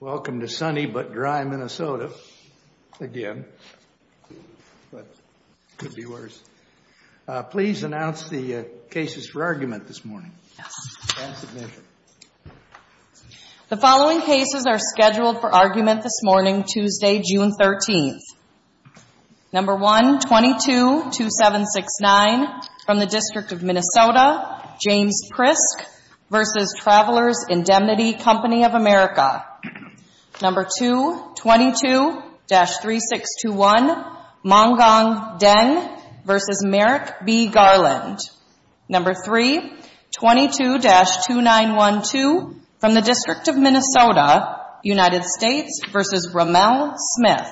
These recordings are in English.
Welcome to sunny but dry Minnesota, again. Could be worse. Please announce the cases for argument this morning. The following cases are scheduled for argument this morning, Tuesday, June 13th. No. 1, 22-2769 from the District of Minnesota, James Prisk v. Travelers Indemnity Co. of America. No. 2, 22-3621, Mongong Den v. Merrick B. Garland. No. 3, 22-2912 from the District of Minnesota, United States v. Rommel Smith.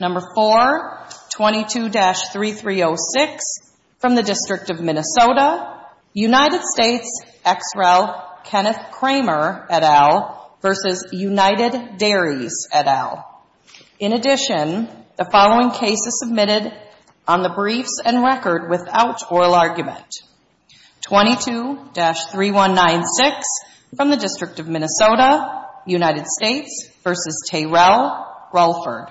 No. 4, 22-3306 from the District of Minnesota, United States ex-rel Kenneth Kramer, et al. v. United Dairies, et al. In addition, the following case is submitted on the briefs and record without oral argument. No. 5, 22-3196 from the District of Minnesota, United States v. Terrell Rolford.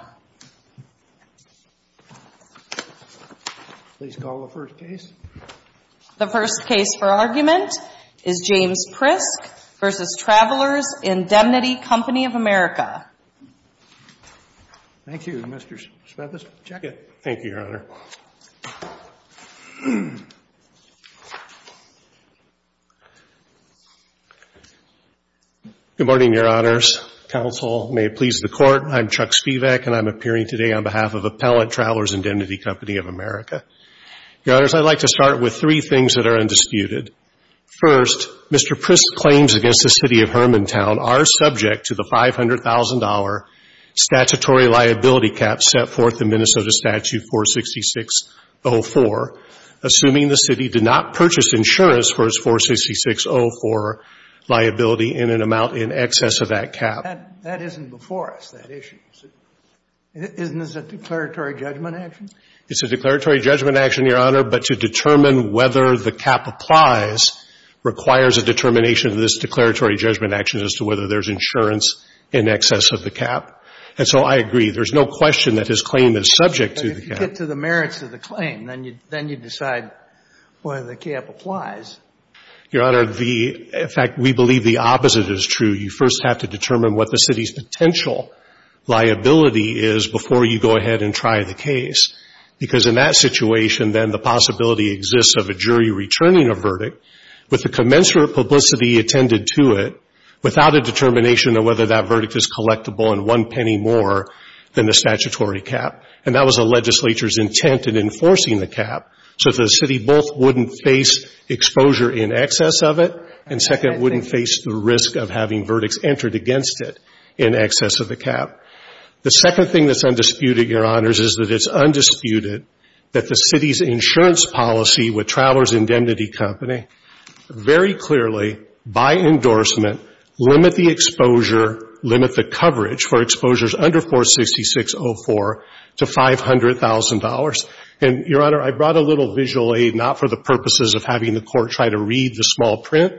Please call the first case. The first case for argument is James Prisk v. Travelers Indemnity Co. of America. Thank you, Mr. Smith. Check it. Thank you, Your Honor. Good morning, Your Honors. Counsel may please the Court. I'm Chuck Spivak, and I'm appearing today on behalf of Appellant Travelers Indemnity Co. of America. Your Honors, I'd like to start with three things that are undisputed. First, Mr. Prisk's claims against the City of Hermantown are subject to the $500,000 statutory liability cap set forth in Minnesota Statute 46604, assuming the City did not purchase insurance for its 46604 liability in an amount in excess of that cap. That isn't before us, that issue. Isn't this a declaratory judgment action? It's a declaratory judgment action, Your Honor. But to determine whether the cap applies requires a determination of this declaratory judgment action as to whether there's insurance in excess of the cap. And so I agree. There's no question that his claim is subject to the cap. But if you get to the merits of the claim, then you decide whether the cap applies. Your Honor, the — in fact, we believe the opposite is true. You first have to determine what the City's potential liability is before you go ahead and try the case, because in that situation, then, the possibility exists of a jury returning a verdict with the commensurate publicity attended to it without a determination of whether that verdict is collectible in one penny more than the statutory cap. And that was the legislature's intent in enforcing the cap, so the City both wouldn't face exposure in excess of it and, second, wouldn't face the risk of having verdicts entered against it in excess of the cap. The second thing that's undisputed, Your Honor, is that it's undisputed that the City's insurance policy with Travelers' Indemnity Company very clearly, by endorsement, limit the exposure, limit the coverage for exposures under 46604 to $500,000. And, Your Honor, I brought a little visual aid, not for the purposes of having the Court try to read the small print,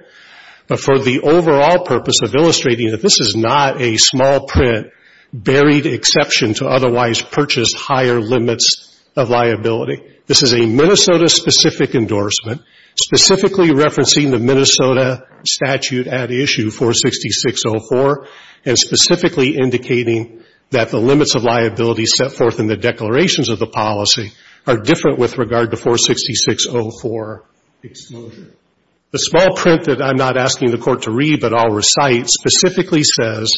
but for the overall purpose of illustrating that this is not a small print buried exception to otherwise purchased higher limits of liability. This is a Minnesota-specific endorsement, specifically referencing the Minnesota statute at issue, 46604, and specifically indicating that the limits of liability set forth in the declarations of the policy are different with regard to 46604 exposure. The small print that I'm not asking the Court to read but I'll recite specifically says,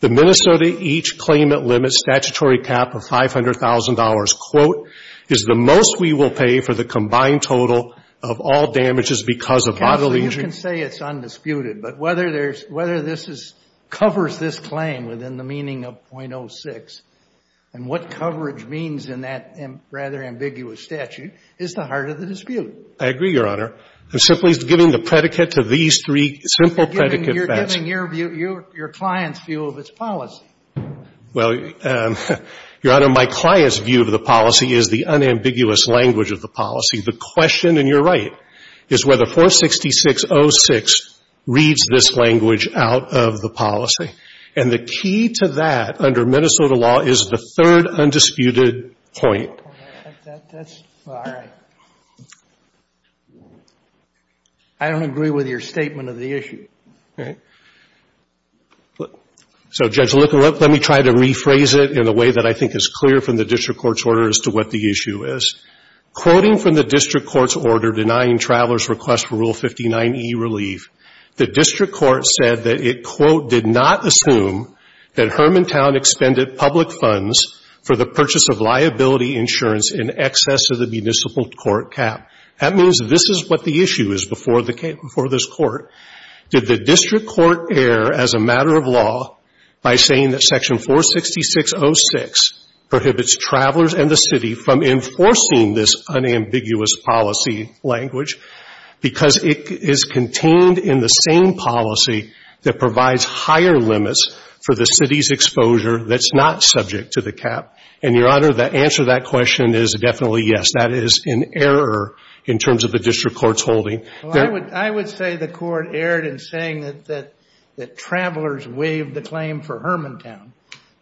the Minnesota each claimant limits statutory cap of $500,000, quote, is the most we will pay for the combined total of all damages because of bodily injury. You can say it's undisputed, but whether there's – whether this is – covers this claim within the meaning of .06 and what coverage means in that rather ambiguous statute is the heart of the dispute. I agree, Your Honor. I'm simply giving the predicate to these three simple predicate facts. You're giving your client's view of its policy. Well, Your Honor, my client's view of the policy is the unambiguous language of the policy. The question, and you're right, is whether 46606 reads this language out of the policy. And the key to that under Minnesota law is the third undisputed point. That's – all right. I don't agree with your statement of the issue. All right. So, Judge Licker, let me try to rephrase it in a way that I think is clear from the district court's order as to what the issue is. Quoting from the district court's order denying travelers' request for Rule 59e relief, the district court said that it, quote, did not assume that Hermantown expended public funds for the purchase of liability insurance in excess of the municipal court cap. That means this is what the issue is before this court. Did the district court err as a matter of law by saying that section 46606 prohibits travelers and the city from enforcing this unambiguous policy language because it is contained in the same policy that provides higher limits for the city's exposure that's not subject to the cap? And, Your Honor, the answer to that question is definitely yes. That is an error in terms of the district court's holding. Well, I would say the court erred in saying that travelers waived the claim for Hermantown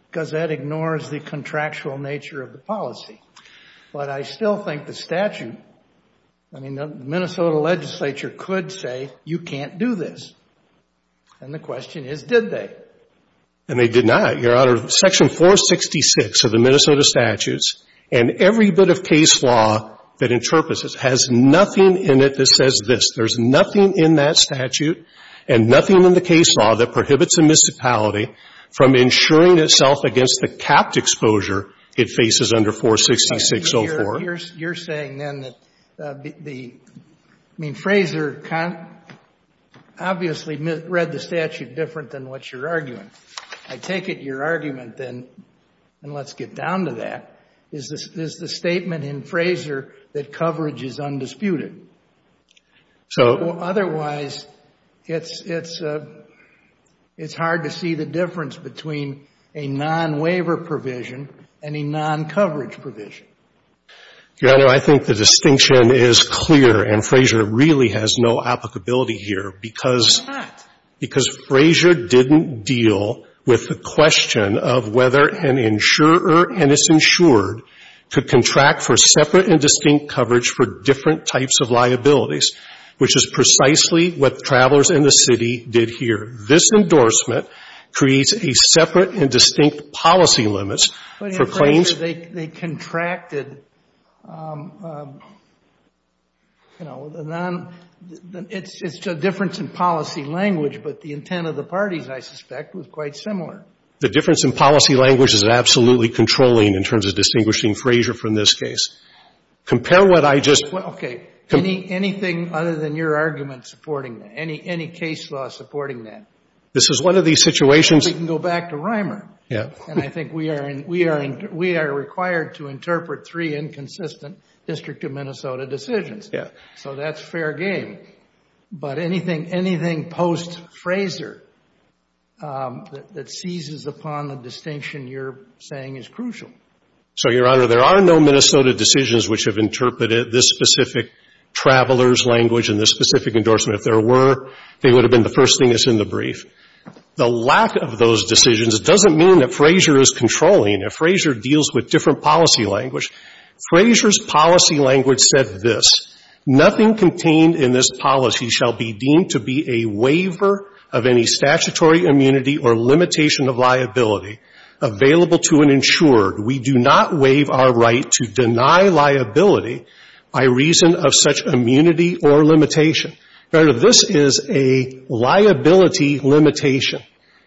because that ignores the contractual nature of the policy. But I still think the statute – I mean, the Minnesota legislature could say, you can't do this. And the question is, did they? And they did not, Your Honor. Section 466 of the Minnesota statutes and every bit of case law that interprets this has nothing in it that says this. There's nothing in that statute and nothing in the case law that prohibits a municipality from insuring itself against the capped exposure it faces under 46604. You're saying then that the – I mean, Fraser obviously read the statute different than what you're arguing. I take it your argument then – and let's get down to that – is the statement in Fraser that coverage is undisputed. So – Otherwise, it's hard to see the difference between a non-waiver provision and a non-coverage provision. Your Honor, I think the distinction is clear, and Fraser really has no applicability here because – He's not. Because Fraser didn't deal with the question of whether an insurer, and it's insured, could contract for separate and distinct coverage for different types of liabilities, which is precisely what travelers in the city did here. This endorsement creates a separate and distinct policy limits for claims – It's a difference in policy language, but the intent of the parties, I suspect, was quite similar. The difference in policy language is absolutely controlling in terms of distinguishing Fraser from this case. Compare what I just – Okay. Anything other than your argument supporting that? Any case law supporting that? This is one of these situations – We can go back to Reimer. Yeah. And I think we are required to interpret three inconsistent District of Minnesota decisions. Yeah. So that's fair game. But anything post-Fraser that seizes upon the distinction you're saying is crucial. So, Your Honor, there are no Minnesota decisions which have interpreted this specific traveler's language and this specific endorsement. If there were, they would have been the first thing that's in the brief. The lack of those decisions doesn't mean that Fraser is controlling. If Fraser deals with different policy language – Fraser's policy language said this. Nothing contained in this policy shall be deemed to be a waiver of any statutory immunity or limitation of liability available to an insured. We do not waive our right to deny liability by reason of such immunity or limitation. Rather, this is a liability limitation.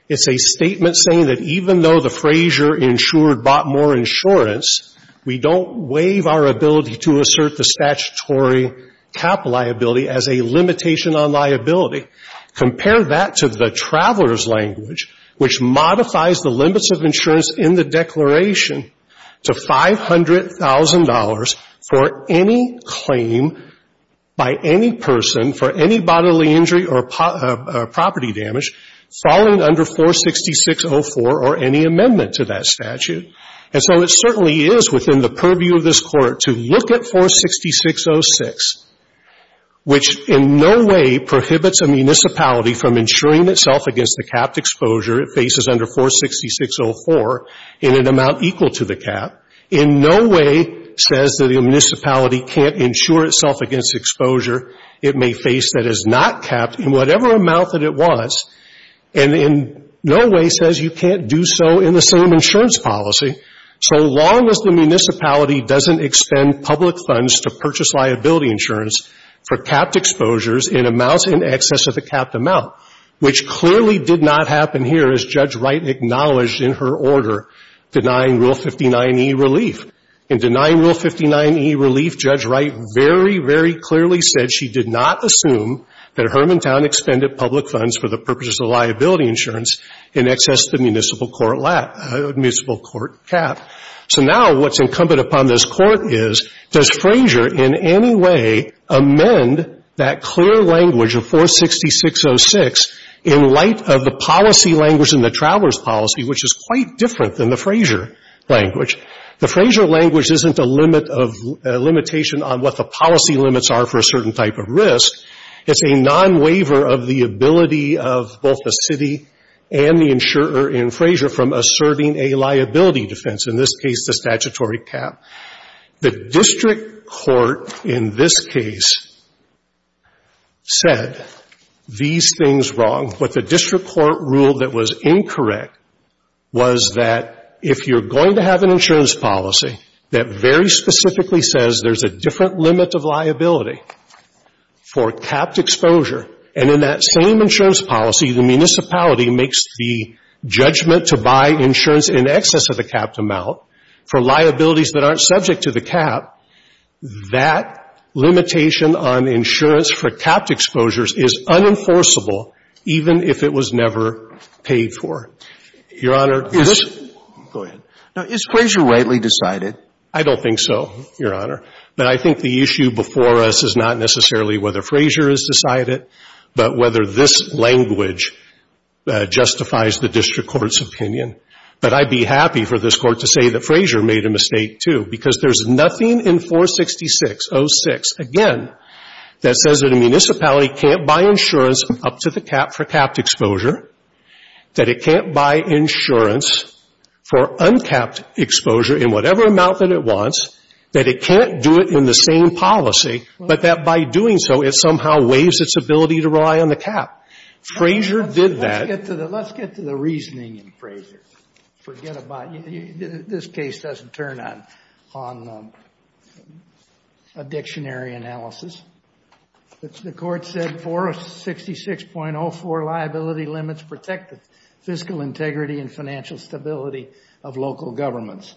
It's a statement saying that even though the Fraser insured bought more insurance, we don't waive our ability to assert the statutory cap liability as a limitation on liability. Compare that to the traveler's language, which modifies the limits of insurance in the declaration to $500,000 for any claim by any person for any bodily injury or property damage falling under 46604 or any amendment to that statute. And so it certainly is within the purview of this Court to look at 46606, which in no way prohibits a municipality from insuring itself against the capped exposure it faces under 46604 in an amount equal to the cap, in no way says that a municipality can't insure itself against exposure it may face that is not capped in whatever amount that it wants, and in no way says you can't do so in the same way that a municipality can't do so in a capped exposure. So the question is, what is the liability insurance policy so long as the municipality doesn't extend public funds to purchase liability insurance for capped exposures in amounts in excess of the capped amount, which clearly did not happen here as Judge Wright acknowledged in her order denying Rule 59e relief. In denying Rule 59e relief, Judge Wright very, very clearly said she did not assume that Hermantown extended public funds for the purposes of liability insurance in excess of the municipal court cap. So now what's incumbent upon this Court is, does Frazier in any way amend that clear language of 46606 in light of the policy language in the Traveler's Policy, which is quite different than the Frazier language? The Frazier language isn't a limit of limitation on what the policy limits are for a certain type of risk. It's a non-waiver of the ability of both the city and the insurer in Frazier from asserting a liability defense, in this case the statutory cap. The district court in this case said these things wrong. What the district court ruled that was incorrect was that if you're going to have an insurance policy that very specifically says there's a different limit of liability for capped exposure, and in that same insurance policy, the municipality makes the judgment to buy insurance in excess of the capped amount for liabilities that aren't subject to the cap, that limitation on insurance for capped exposures is unenforceable even if it was never paid for. Your Honor, this — Go ahead. Now, is Frazier rightly decided? I don't think so, Your Honor. But I think the issue before us is not necessarily whether Frazier is decided, but whether this language justifies the district court's opinion. But I'd be happy for this Court to say that Frazier made a mistake, too, because there's nothing in 466.06, again, that says that a municipality can't buy insurance up to the cap for capped exposure, that it can't buy insurance for uncapped exposure in whatever amount that it wants, that it can't do it in the same policy, but that by doing so, it somehow waives its ability to rely on the cap. Frazier did that. Let's get to the reasoning in Frazier. Forget about it. This case doesn't turn on a dictionary analysis. The Court said 466.04 liability limits protect the fiscal integrity and financial stability of local governments.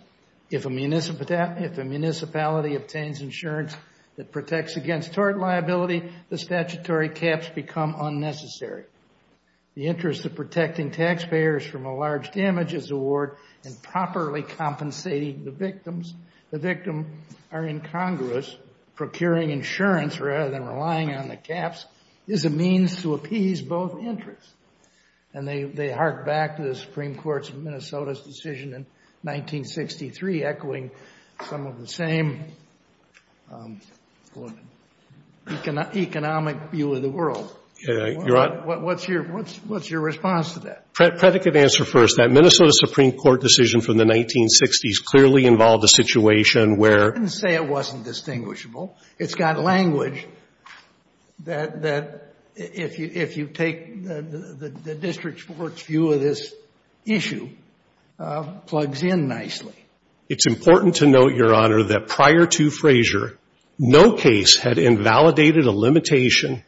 If a municipality obtains insurance that protects against tort liability, the statutory caps become unnecessary. The interest of protecting taxpayers from a large damages award and properly compensating the victims, the victim are incongruous. Procuring insurance rather than relying on the caps is a means to appease both interests. And they hark back to the Supreme Court's Minnesota's decision in 1963, echoing some of the same economic view of the world. Your Honor? What's your response to that? Predicate answer first. That Minnesota Supreme Court decision from the 1960s clearly involved a situation where — I didn't say it wasn't distinguishable. It's got language that, if you take the district court's view of this issue, plugs in nicely. It's important to note, Your Honor, that prior to Frazier, no case had invalidated a limitation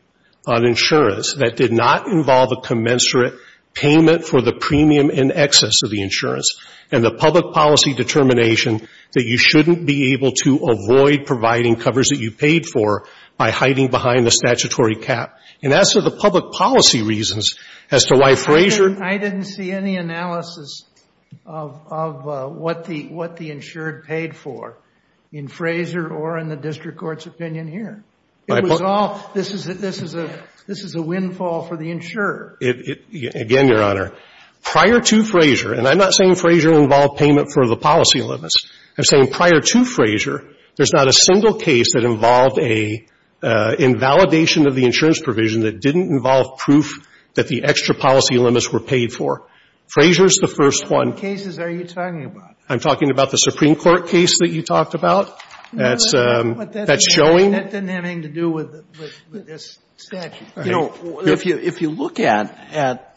on insurance that did not involve a commensurate payment for the premium in excess of the insurance and the public policy determination that you shouldn't be able to avoid providing covers that you paid for by hiding behind the statutory cap. And as to the public policy reasons as to why Frazier — I'm not saying Frazier involved payment for the policy limits. I'm saying prior to Frazier, there's not a single case that involved an invalidation of the insurance provision that didn't involve proof that the extra policy limits were paid for. Frazier's the first one. Frazier's the fifth one. Frazier's the sixth one. I'm talking about the Supreme Court case that you talked about that's showing. That didn't have anything to do with this statute. You know, if you look at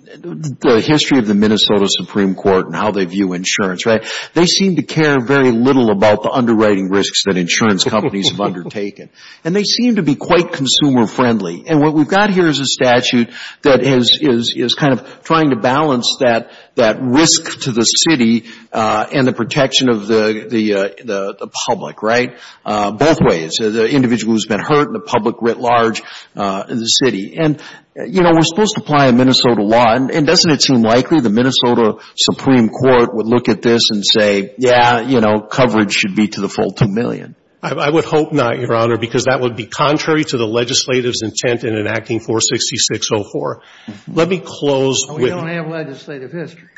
the history of the Minnesota Supreme Court and how they view insurance, right, they seem to care very little about the underwriting risks that insurance companies have undertaken. And they seem to be quite consumer-friendly. And what we've got here is a statute that is kind of trying to balance that risk to the city and the protection of the public, right, both ways, the individual who's been hurt and the public writ large in the city. And, you know, we're supposed to apply a Minnesota law. And doesn't it seem likely the Minnesota Supreme Court would look at this and say, yeah, you know, coverage should be to the full 2 million? I would hope not, Your Honor, because that would be contrary to the legislative's intent in enacting 46604. Let me close with — We don't have legislative history.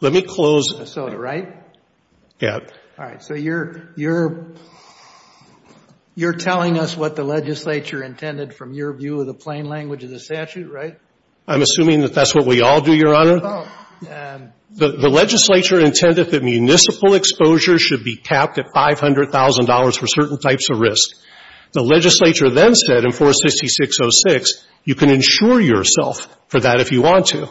Let me close — Minnesota, right? Yeah. All right. So you're telling us what the legislature intended from your view of the plain language of the statute, right? I'm assuming that that's what we all do, Your Honor. Oh. The legislature intended that municipal exposure should be capped at $500,000 for certain types of risk. The legislature then said in 46606, you can insure yourself for that if you want to.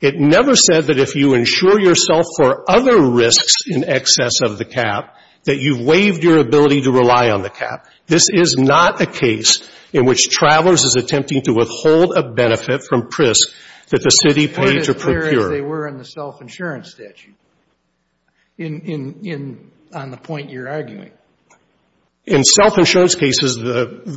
It never said that if you insure yourself for other risks in excess of the cap, that you've waived your ability to rely on the cap. This is not a case in which Travelers is attempting to withhold a benefit from PRISC that the city paid to procure. I heard it clear as they were in the self-insurance statute in — on the point you're arguing. In self-insurance cases,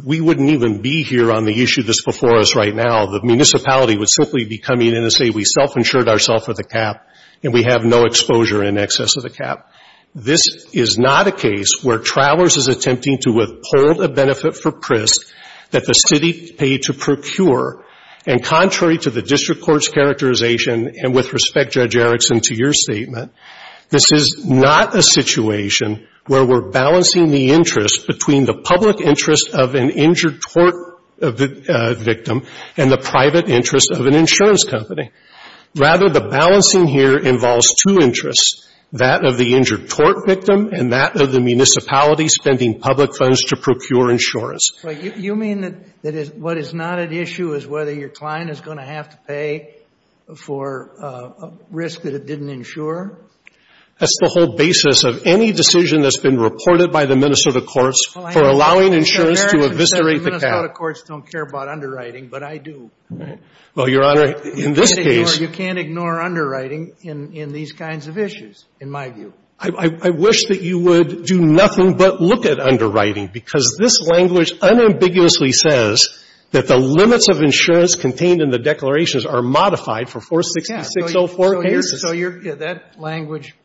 we wouldn't even be here on the issue that's before us right now. The municipality would simply be coming in and say, we self-insured ourselves with a cap, and we have no exposure in excess of the cap. This is not a case where Travelers is attempting to withhold a benefit for PRISC that the city paid to procure. And contrary to the district court's characterization, and with respect, Judge Erickson, to your statement, this is not a situation where we're balancing the private interest of an insurance company. Rather, the balancing here involves two interests, that of the injured tort victim and that of the municipality spending public funds to procure insurance. But you mean that what is not at issue is whether your client is going to have to pay for a risk that it didn't insure? That's the whole basis of any decision that's been reported by the Minnesota courts for allowing insurance to eviscerate the cap. The Minnesota courts don't care about underwriting, but I do. Well, Your Honor, in this case. You can't ignore underwriting in these kinds of issues, in my view. I wish that you would do nothing but look at underwriting, because this language unambiguously says that the limits of insurance contained in the declarations are modified for 46604 cases. So that language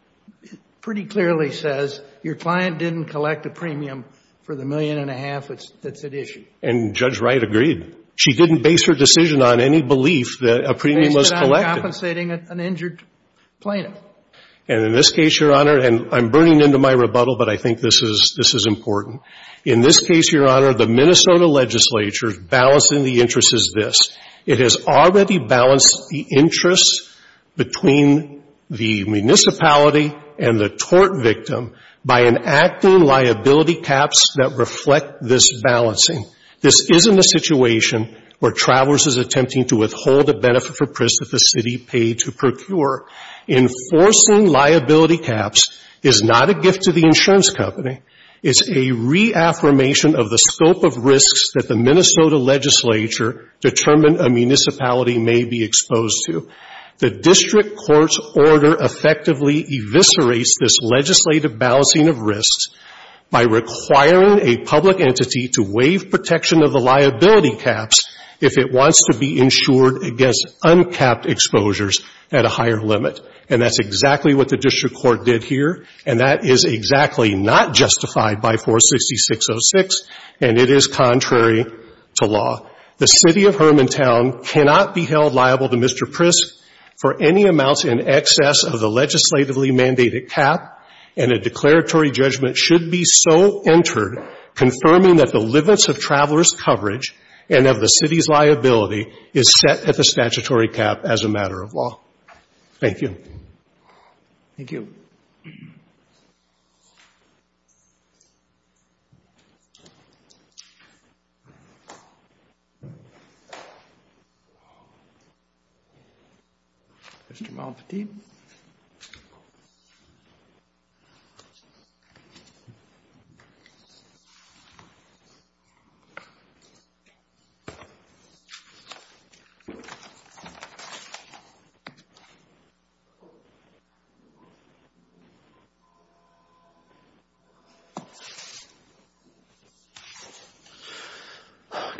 pretty clearly says your client didn't collect a premium for the million and a half that's at issue. And Judge Wright agreed. She didn't base her decision on any belief that a premium was collected. Based it on compensating an injured plaintiff. And in this case, Your Honor, and I'm burning into my rebuttal, but I think this is important. In this case, Your Honor, the Minnesota legislature's balancing the interest is this. It has already balanced the interest between the municipality and the tort victim by enacting liability caps that reflect this balancing. This isn't a situation where Travelers is attempting to withhold a benefit for Pris that the city paid to procure. Enforcing liability caps is not a gift to the insurance company. It's a reaffirmation of the scope of risks that the Minnesota legislature determined a municipality may be exposed to. The district court's order effectively eviscerates this legislative balancing of risks by requiring a public entity to waive protection of the liability caps if it wants to be insured against uncapped exposures at a higher limit. And that's exactly what the district court did here. And that is exactly not justified by 46606. And it is contrary to law. The city of Hermantown cannot be held liable to Mr. Pris for any amounts in excess of the legislatively mandated cap, and a declaratory judgment should be so entered confirming that the limits of Travelers' coverage and of the city's liability is set at the statutory cap as a matter of law. Thank you. Thank you. Mr. Malpatine.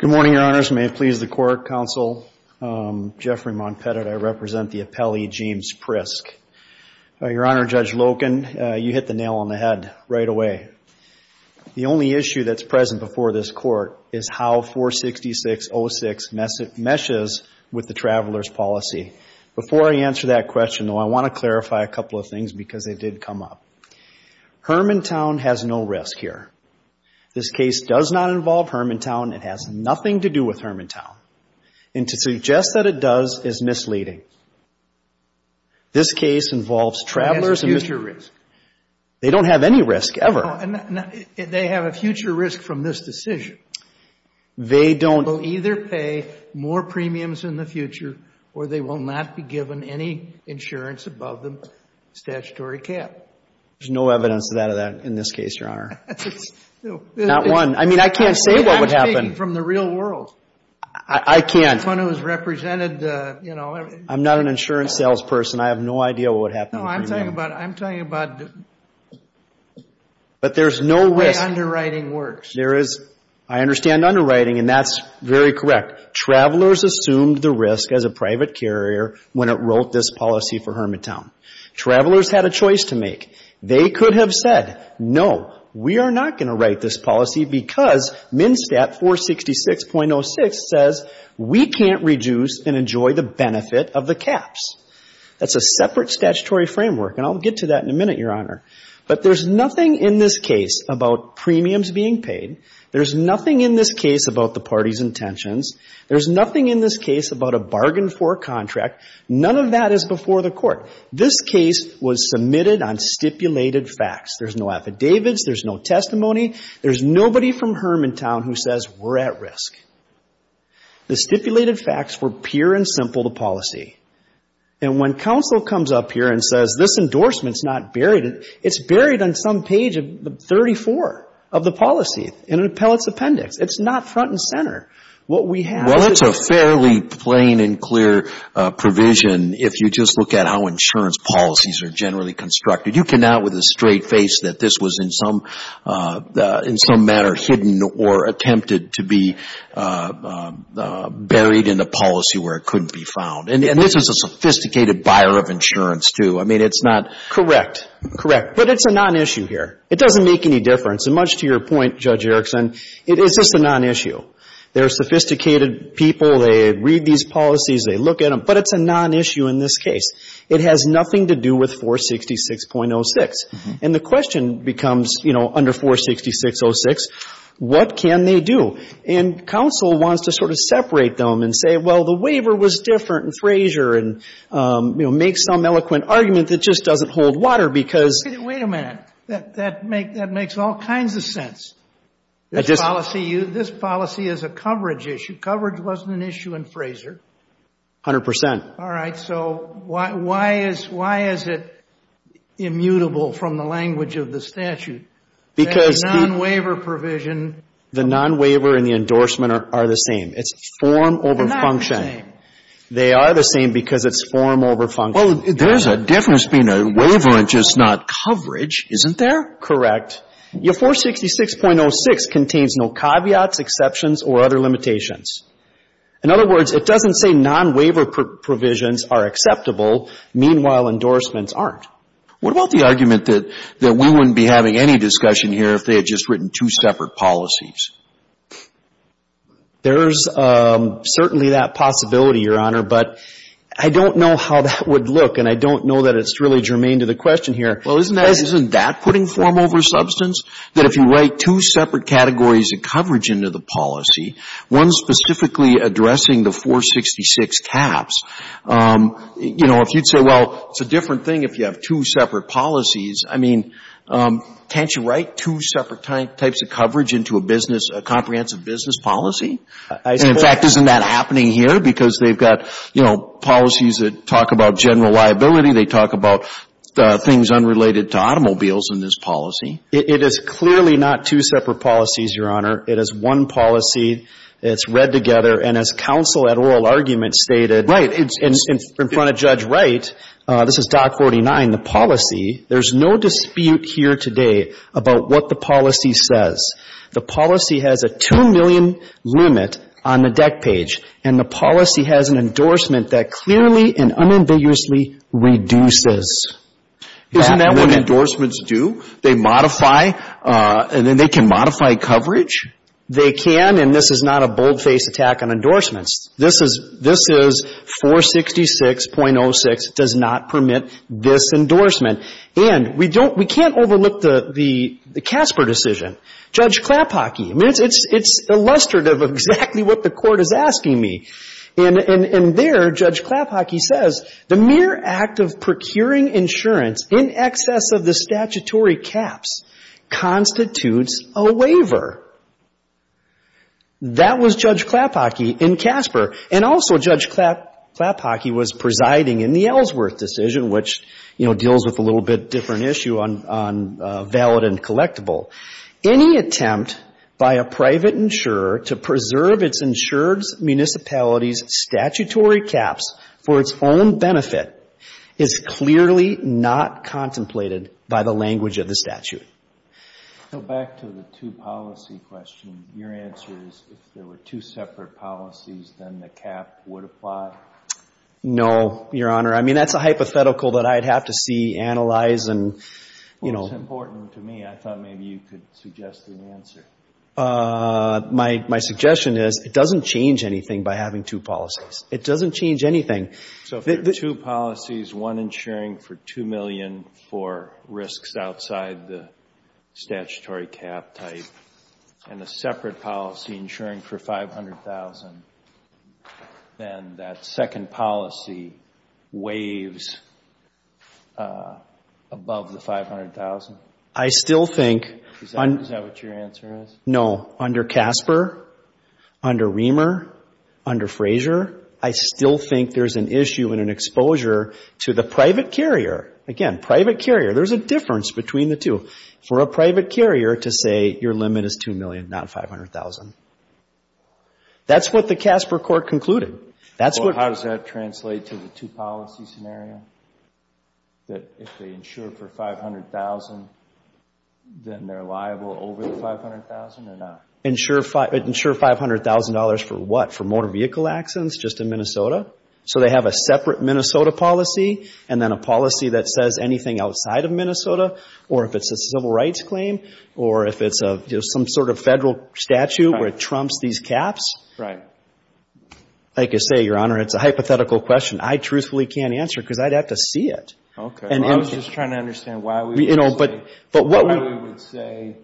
Good morning, Your Honors. May it please the court, counsel, Jeffrey Malpatine. I represent the appellee, James Prisk. Your Honor, Judge Loken, you hit the nail on the head right away. The only issue that's present before this court is how 46606 meshes with the Travelers' policy. Before I answer that question, though, I want to clarify a couple of things because they did come up. Hermantown has no risk here. This case does not involve Hermantown. It has nothing to do with Hermantown. And to suggest that it does is misleading. This case involves Travelers' and Mr. Prisk. It has future risk. They don't have any risk, ever. They have a future risk from this decision. They don't. They will either pay more premiums in the future or they will not be given any insurance above the statutory cap. There's no evidence of that in this case, Your Honor. Not one. I mean, I can't say what would happen. I'm speaking from the real world. I can't. The one who's represented, you know. I'm not an insurance salesperson. I have no idea what would happen. No, I'm talking about the way underwriting works. There is, I understand underwriting, and that's very correct. Travelers assumed the risk as a private carrier when it wrote this policy for Hermantown. Travelers had a choice to make. They could have said, No, we are not going to write this policy because MnSTAT 466.06 says we can't reduce and enjoy the benefit of the caps. That's a separate statutory framework, and I'll get to that in a minute, Your Honor. But there's nothing in this case about premiums being paid. There's nothing in this case about the party's intentions. There's nothing in this case about a bargain for a contract. None of that is before the court. This case was submitted on stipulated facts. There's no affidavits. There's no testimony. There's nobody from Hermantown who says we're at risk. The stipulated facts were pure and simple, the policy. And when counsel comes up here and says, This endorsement is not buried, it's buried on some page of 34 of the policy, in an appellate's appendix. It's not front and center. What we have is a fairly plain and clear provision if you just look at how insurance policies are generally constructed. You cannot, with a straight face, that this was in some manner hidden or attempted to be buried in the policy where it couldn't be found. And this is a sophisticated buyer of insurance, too. I mean, it's not. Correct. Correct. But it's a non-issue here. It doesn't make any difference. And much to your point, Judge Erickson, it's just a non-issue. There are sophisticated people. They read these policies. They look at them. But it's a non-issue in this case. It has nothing to do with 466.06. And the question becomes, you know, under 466.06, what can they do? And counsel wants to sort of separate them and say, well, the waiver was different in Fraser and, you know, make some eloquent argument that just doesn't hold water because... Wait a minute. That makes all kinds of sense. This policy is a coverage issue. Coverage wasn't an issue in Fraser. A hundred percent. All right. So why is it immutable from the language of the statute? Because the non-waiver provision... The non-waiver and the endorsement are the same. It's form over function. They're not the same. They are the same because it's form over function. Well, there's a difference between a waiver and just not coverage, isn't there? Correct. Your 466.06 contains no caveats, exceptions, or other limitations. In other words, it doesn't say non-waiver provisions are acceptable. Meanwhile, endorsements aren't. What about the argument that we wouldn't be having any discussion here if they had just written two separate policies? There's certainly that possibility, Your Honor. But I don't know how that would look, and I don't know that it's really germane to the question here. Well, isn't that putting form over substance, that if you write two separate categories of coverage into the policy, one specifically addressing the 466 caps, you know, if you'd say, well, it's a different thing if you have two separate policies, I mean, can't you write two separate types of coverage into a business comprehensive business policy? In fact, isn't that happening here? Because they've got, you know, policies that talk about general liability. They talk about things unrelated to automobiles in this policy. It is clearly not two separate policies, Your Honor. It is one policy. It's read together. And as counsel at oral argument stated in front of Judge Wright, this is Doc 49, the policy, there's no dispute here today about what the policy says. The policy has a 2 million limit on the deck page, and the policy has an endorsement that clearly and unambiguously reduces. Isn't that what endorsements do? They modify, and then they can modify coverage? They can, and this is not a boldface attack on endorsements. This is 466.06, does not permit this endorsement. And we don't we can't overlook the Casper decision. Judge Klapach, I mean, it's illustrative of exactly what the Court is asking me. And there, Judge Klapach says, the mere act of procuring insurance in excess of the statutory caps constitutes a waiver. That was Judge Klapach in Casper. And also, Judge Klapach was presiding in the Ellsworth decision, which, you know, deals with a little bit different issue on valid and collectible. Any attempt by a private insurer to preserve its insured municipality's statutory caps for its own benefit is clearly not contemplated by the language of the statute. So back to the two-policy question, your answer is if there were two separate policies, then the cap would apply? No, Your Honor. I mean, that's a hypothetical that I'd have to see analyzed and, you know. It's important to me. I thought maybe you could suggest an answer. My suggestion is it doesn't change anything by having two policies. It doesn't change anything. So if there are two policies, one insuring for $2 million for risks outside the statutory cap type and a separate policy insuring for $500,000, then that second policy waves above the $500,000? I still think. Is that what your answer is? No. Under Casper, under Reamer, under Frazier, I still think there's an issue and an exposure to the private carrier. Again, private carrier. There's a difference between the two. For a private carrier to say your limit is $2 million, not $500,000. That's what the Casper court concluded. How does that translate to the two policy scenario? That if they insure for $500,000, then they're liable over the $500,000 or not? Insure $500,000 for what? For motor vehicle accidents just in Minnesota? So they have a separate Minnesota policy and then a policy that says anything outside of Minnesota or if it's a civil rights claim or if it's some sort of statute where it trumps these caps? Right. Like I say, Your Honor, it's a hypothetical question. I truthfully can't answer because I'd have to see it. Okay. I was just trying to understand why we would say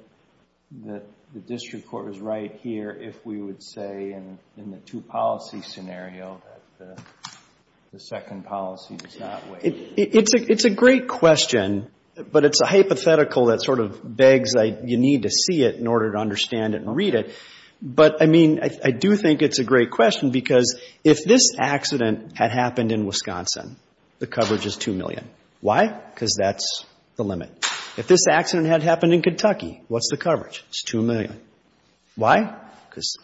that the district court was right here if we would say in the two policy scenario that the second policy does not wave. It's a great question, but it's a hypothetical that sort of begs, you need to see it in order to understand it and read it. But, I mean, I do think it's a great question because if this accident had happened in Wisconsin, the coverage is $2 million. Why? Because that's the limit. If this accident had happened in Kentucky, what's the coverage? It's $2 million. Why? Because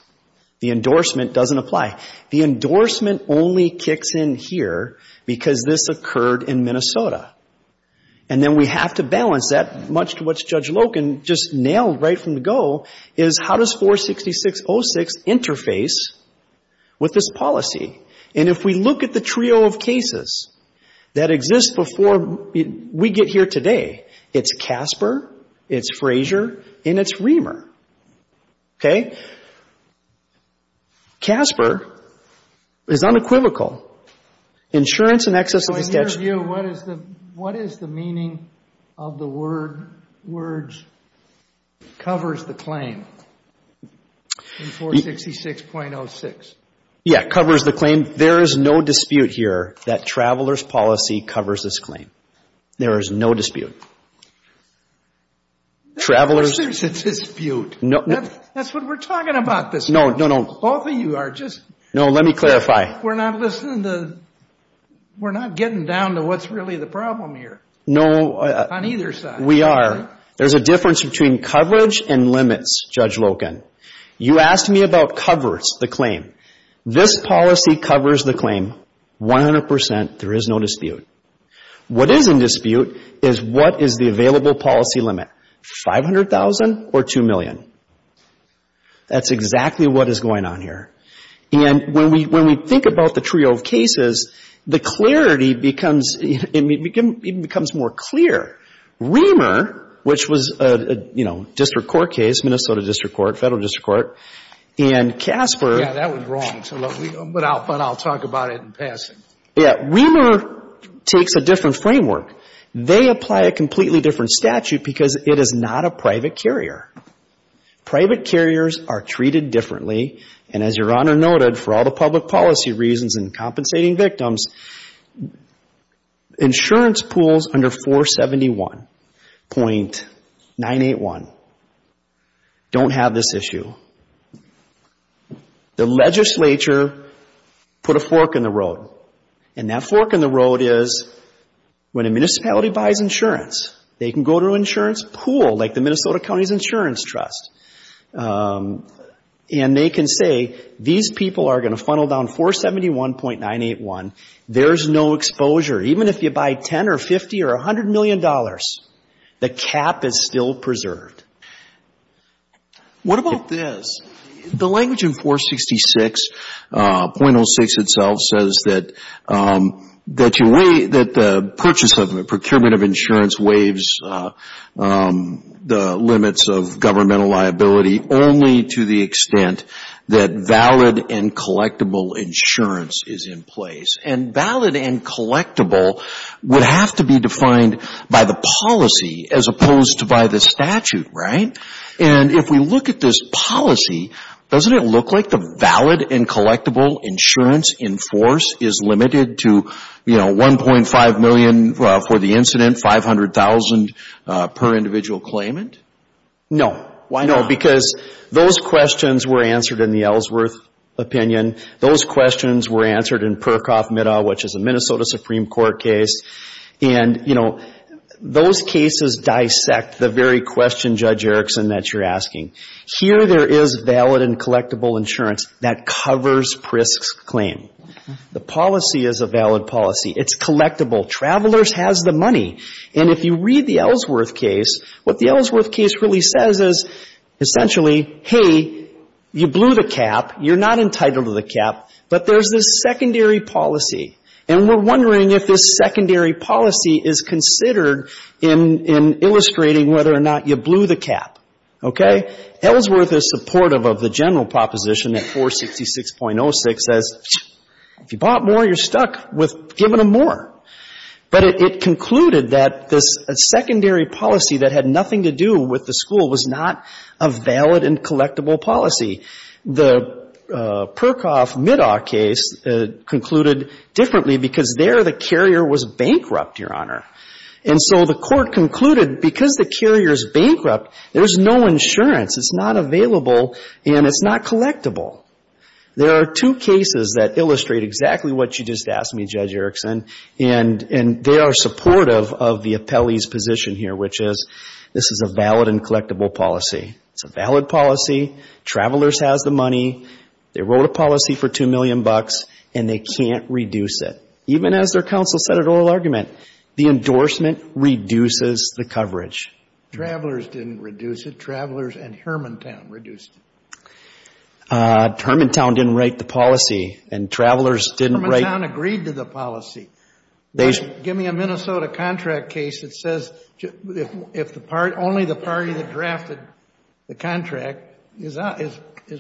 the endorsement doesn't apply. The endorsement only kicks in here because this occurred in Minnesota. And then we have to balance that much to what Judge Loken just nailed right from the go is how does 46606 interface with this policy? And if we look at the trio of cases that exist before we get here today, it's Casper, it's Frazier, and it's Reamer. Okay? Casper is unequivocal. Insurance and excess of the statute. In your view, what is the meaning of the words, covers the claim in 466.06? Yeah, covers the claim. There is no dispute here that traveler's policy covers this claim. There is no dispute. Traveler's. There's a dispute. That's what we're talking about. Both of you are just. No, let me clarify. We're not listening to. We're not getting down to what's really the problem here. No. On either side. We are. There's a difference between coverage and limits, Judge Loken. You asked me about covers, the claim. This policy covers the claim 100%. There is no dispute. What is in dispute is what is the available policy limit, 500,000 or 2 million? That's exactly what is going on here. And when we think about the trio of cases, the clarity becomes, it becomes more clear. Reamer, which was a, you know, district court case, Minnesota District Court, Federal District Court, and Casper. Yeah, that was wrong. But I'll talk about it in passing. Yeah. Reamer takes a different framework. They apply a completely different statute because it is not a private carrier. Private carriers are treated differently, and as Your Honor noted, for all the public policy reasons and compensating victims, insurance pools under 471.981 don't have this issue. The legislature put a fork in the road, and that fork in the road is when a municipality buys insurance, they can go to an insurance pool like the Minnesota County Insurance Trust, and they can say these people are going to funnel down 471.981. There is no exposure. Even if you buy 10 or 50 or $100 million, the cap is still preserved. What about this? The language in 466.06 itself says that the purchase of, the procurement of insurance waives the limits of governmental liability only to the extent that valid and collectible insurance is in place. And valid and collectible would have to be defined by the policy as opposed to by the statute, right? And if we look at this policy, doesn't it look like the valid and collectible insurance in force is limited to, you know, $1.5 million for the incident, $500,000 per individual claimant? No. Why not? No, because those questions were answered in the Ellsworth opinion. Those questions were answered in Perkoff-Meadow, which is a Minnesota Supreme Court case. And, you know, those cases dissect the very question, Judge Erickson, that you're asking. Here there is valid and collectible insurance that covers PRISC's claim. The policy is a valid policy. It's collectible. Travelers has the money. And if you read the Ellsworth case, what the Ellsworth case really says is essentially, hey, you blew the cap. You're not entitled to the cap. But there's this secondary policy. And we're wondering if this secondary policy is considered in illustrating whether or not you blew the cap. Okay? Ellsworth is supportive of the general proposition that 466.06 says, if you bought more, you're stuck with giving them more. But it concluded that this secondary policy that had nothing to do with the school was not a valid and collectible policy. The Perkoff-Meadow case concluded differently because there the carrier was bankrupt, Your Honor. And so the court concluded because the carrier is bankrupt, there's no insurance. It's not available, and it's not collectible. There are two cases that illustrate exactly what you just asked me, Judge Erickson, and they are supportive of the appellee's position here, which is this is a valid and collectible policy. It's a valid policy. Travelers has the money. They wrote a policy for $2 million, and they can't reduce it. Even as their counsel said at oral argument, the endorsement reduces the coverage. Travelers didn't reduce it. Travelers and Hermantown reduced it. Hermantown didn't write the policy, and Travelers didn't write the policy. Hermantown agreed to the policy. Give me a Minnesota contract case that says if only the party that drafted the contract is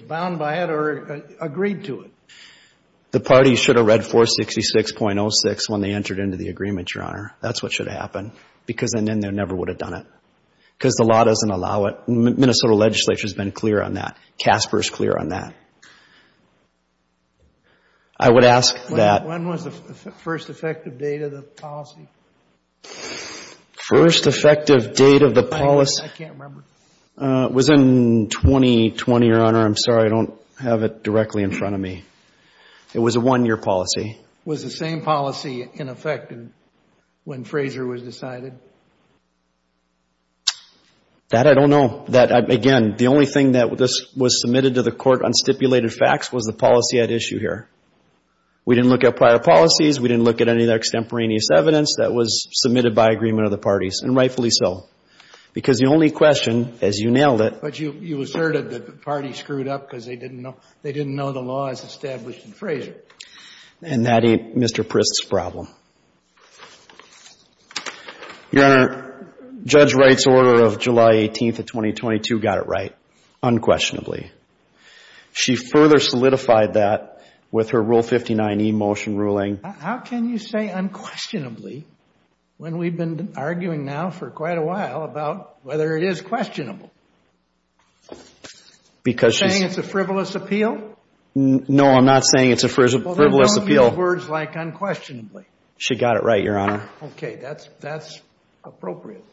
bound by it or agreed to it. The party should have read 466.06 when they entered into the agreement, Your Honor. That's what should have happened because then they never would have done it because the law doesn't allow it. Minnesota legislature has been clear on that. CASPER is clear on that. I would ask that. When was the first effective date of the policy? First effective date of the policy? I can't remember. It was in 2020, Your Honor. I'm sorry, I don't have it directly in front of me. It was a one-year policy. Was the same policy in effect when Fraser was decided? That I don't know. Again, the only thing that was submitted to the court on stipulated facts was the policy at issue here. We didn't look at prior policies. We didn't look at any extemporaneous evidence. That was submitted by agreement of the parties, and rightfully so, because the only question, as you nailed it. But you asserted that the party screwed up because they didn't know the law as established in Fraser. And that ain't Mr. Prist's problem. Your Honor, Judge Wright's order of July 18th of 2022 got it right, unquestionably. She further solidified that with her Rule 59e motion ruling. How can you say unquestionably when we've been arguing now for quite a while about whether it is questionable? You're saying it's a frivolous appeal? No, I'm not saying it's a frivolous appeal. Well, then what would be the words like unquestionably? She got it right, Your Honor. Okay, that's appropriate.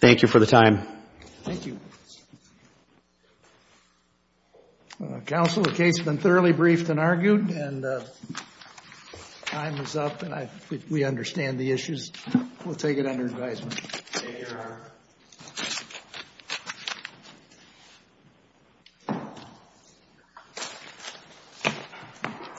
Thank you for the time. Thank you. Counsel, the case has been thoroughly briefed and argued. And time is up, and I think we understand the issues. We'll take it under advisement. Thank you, Your Honor.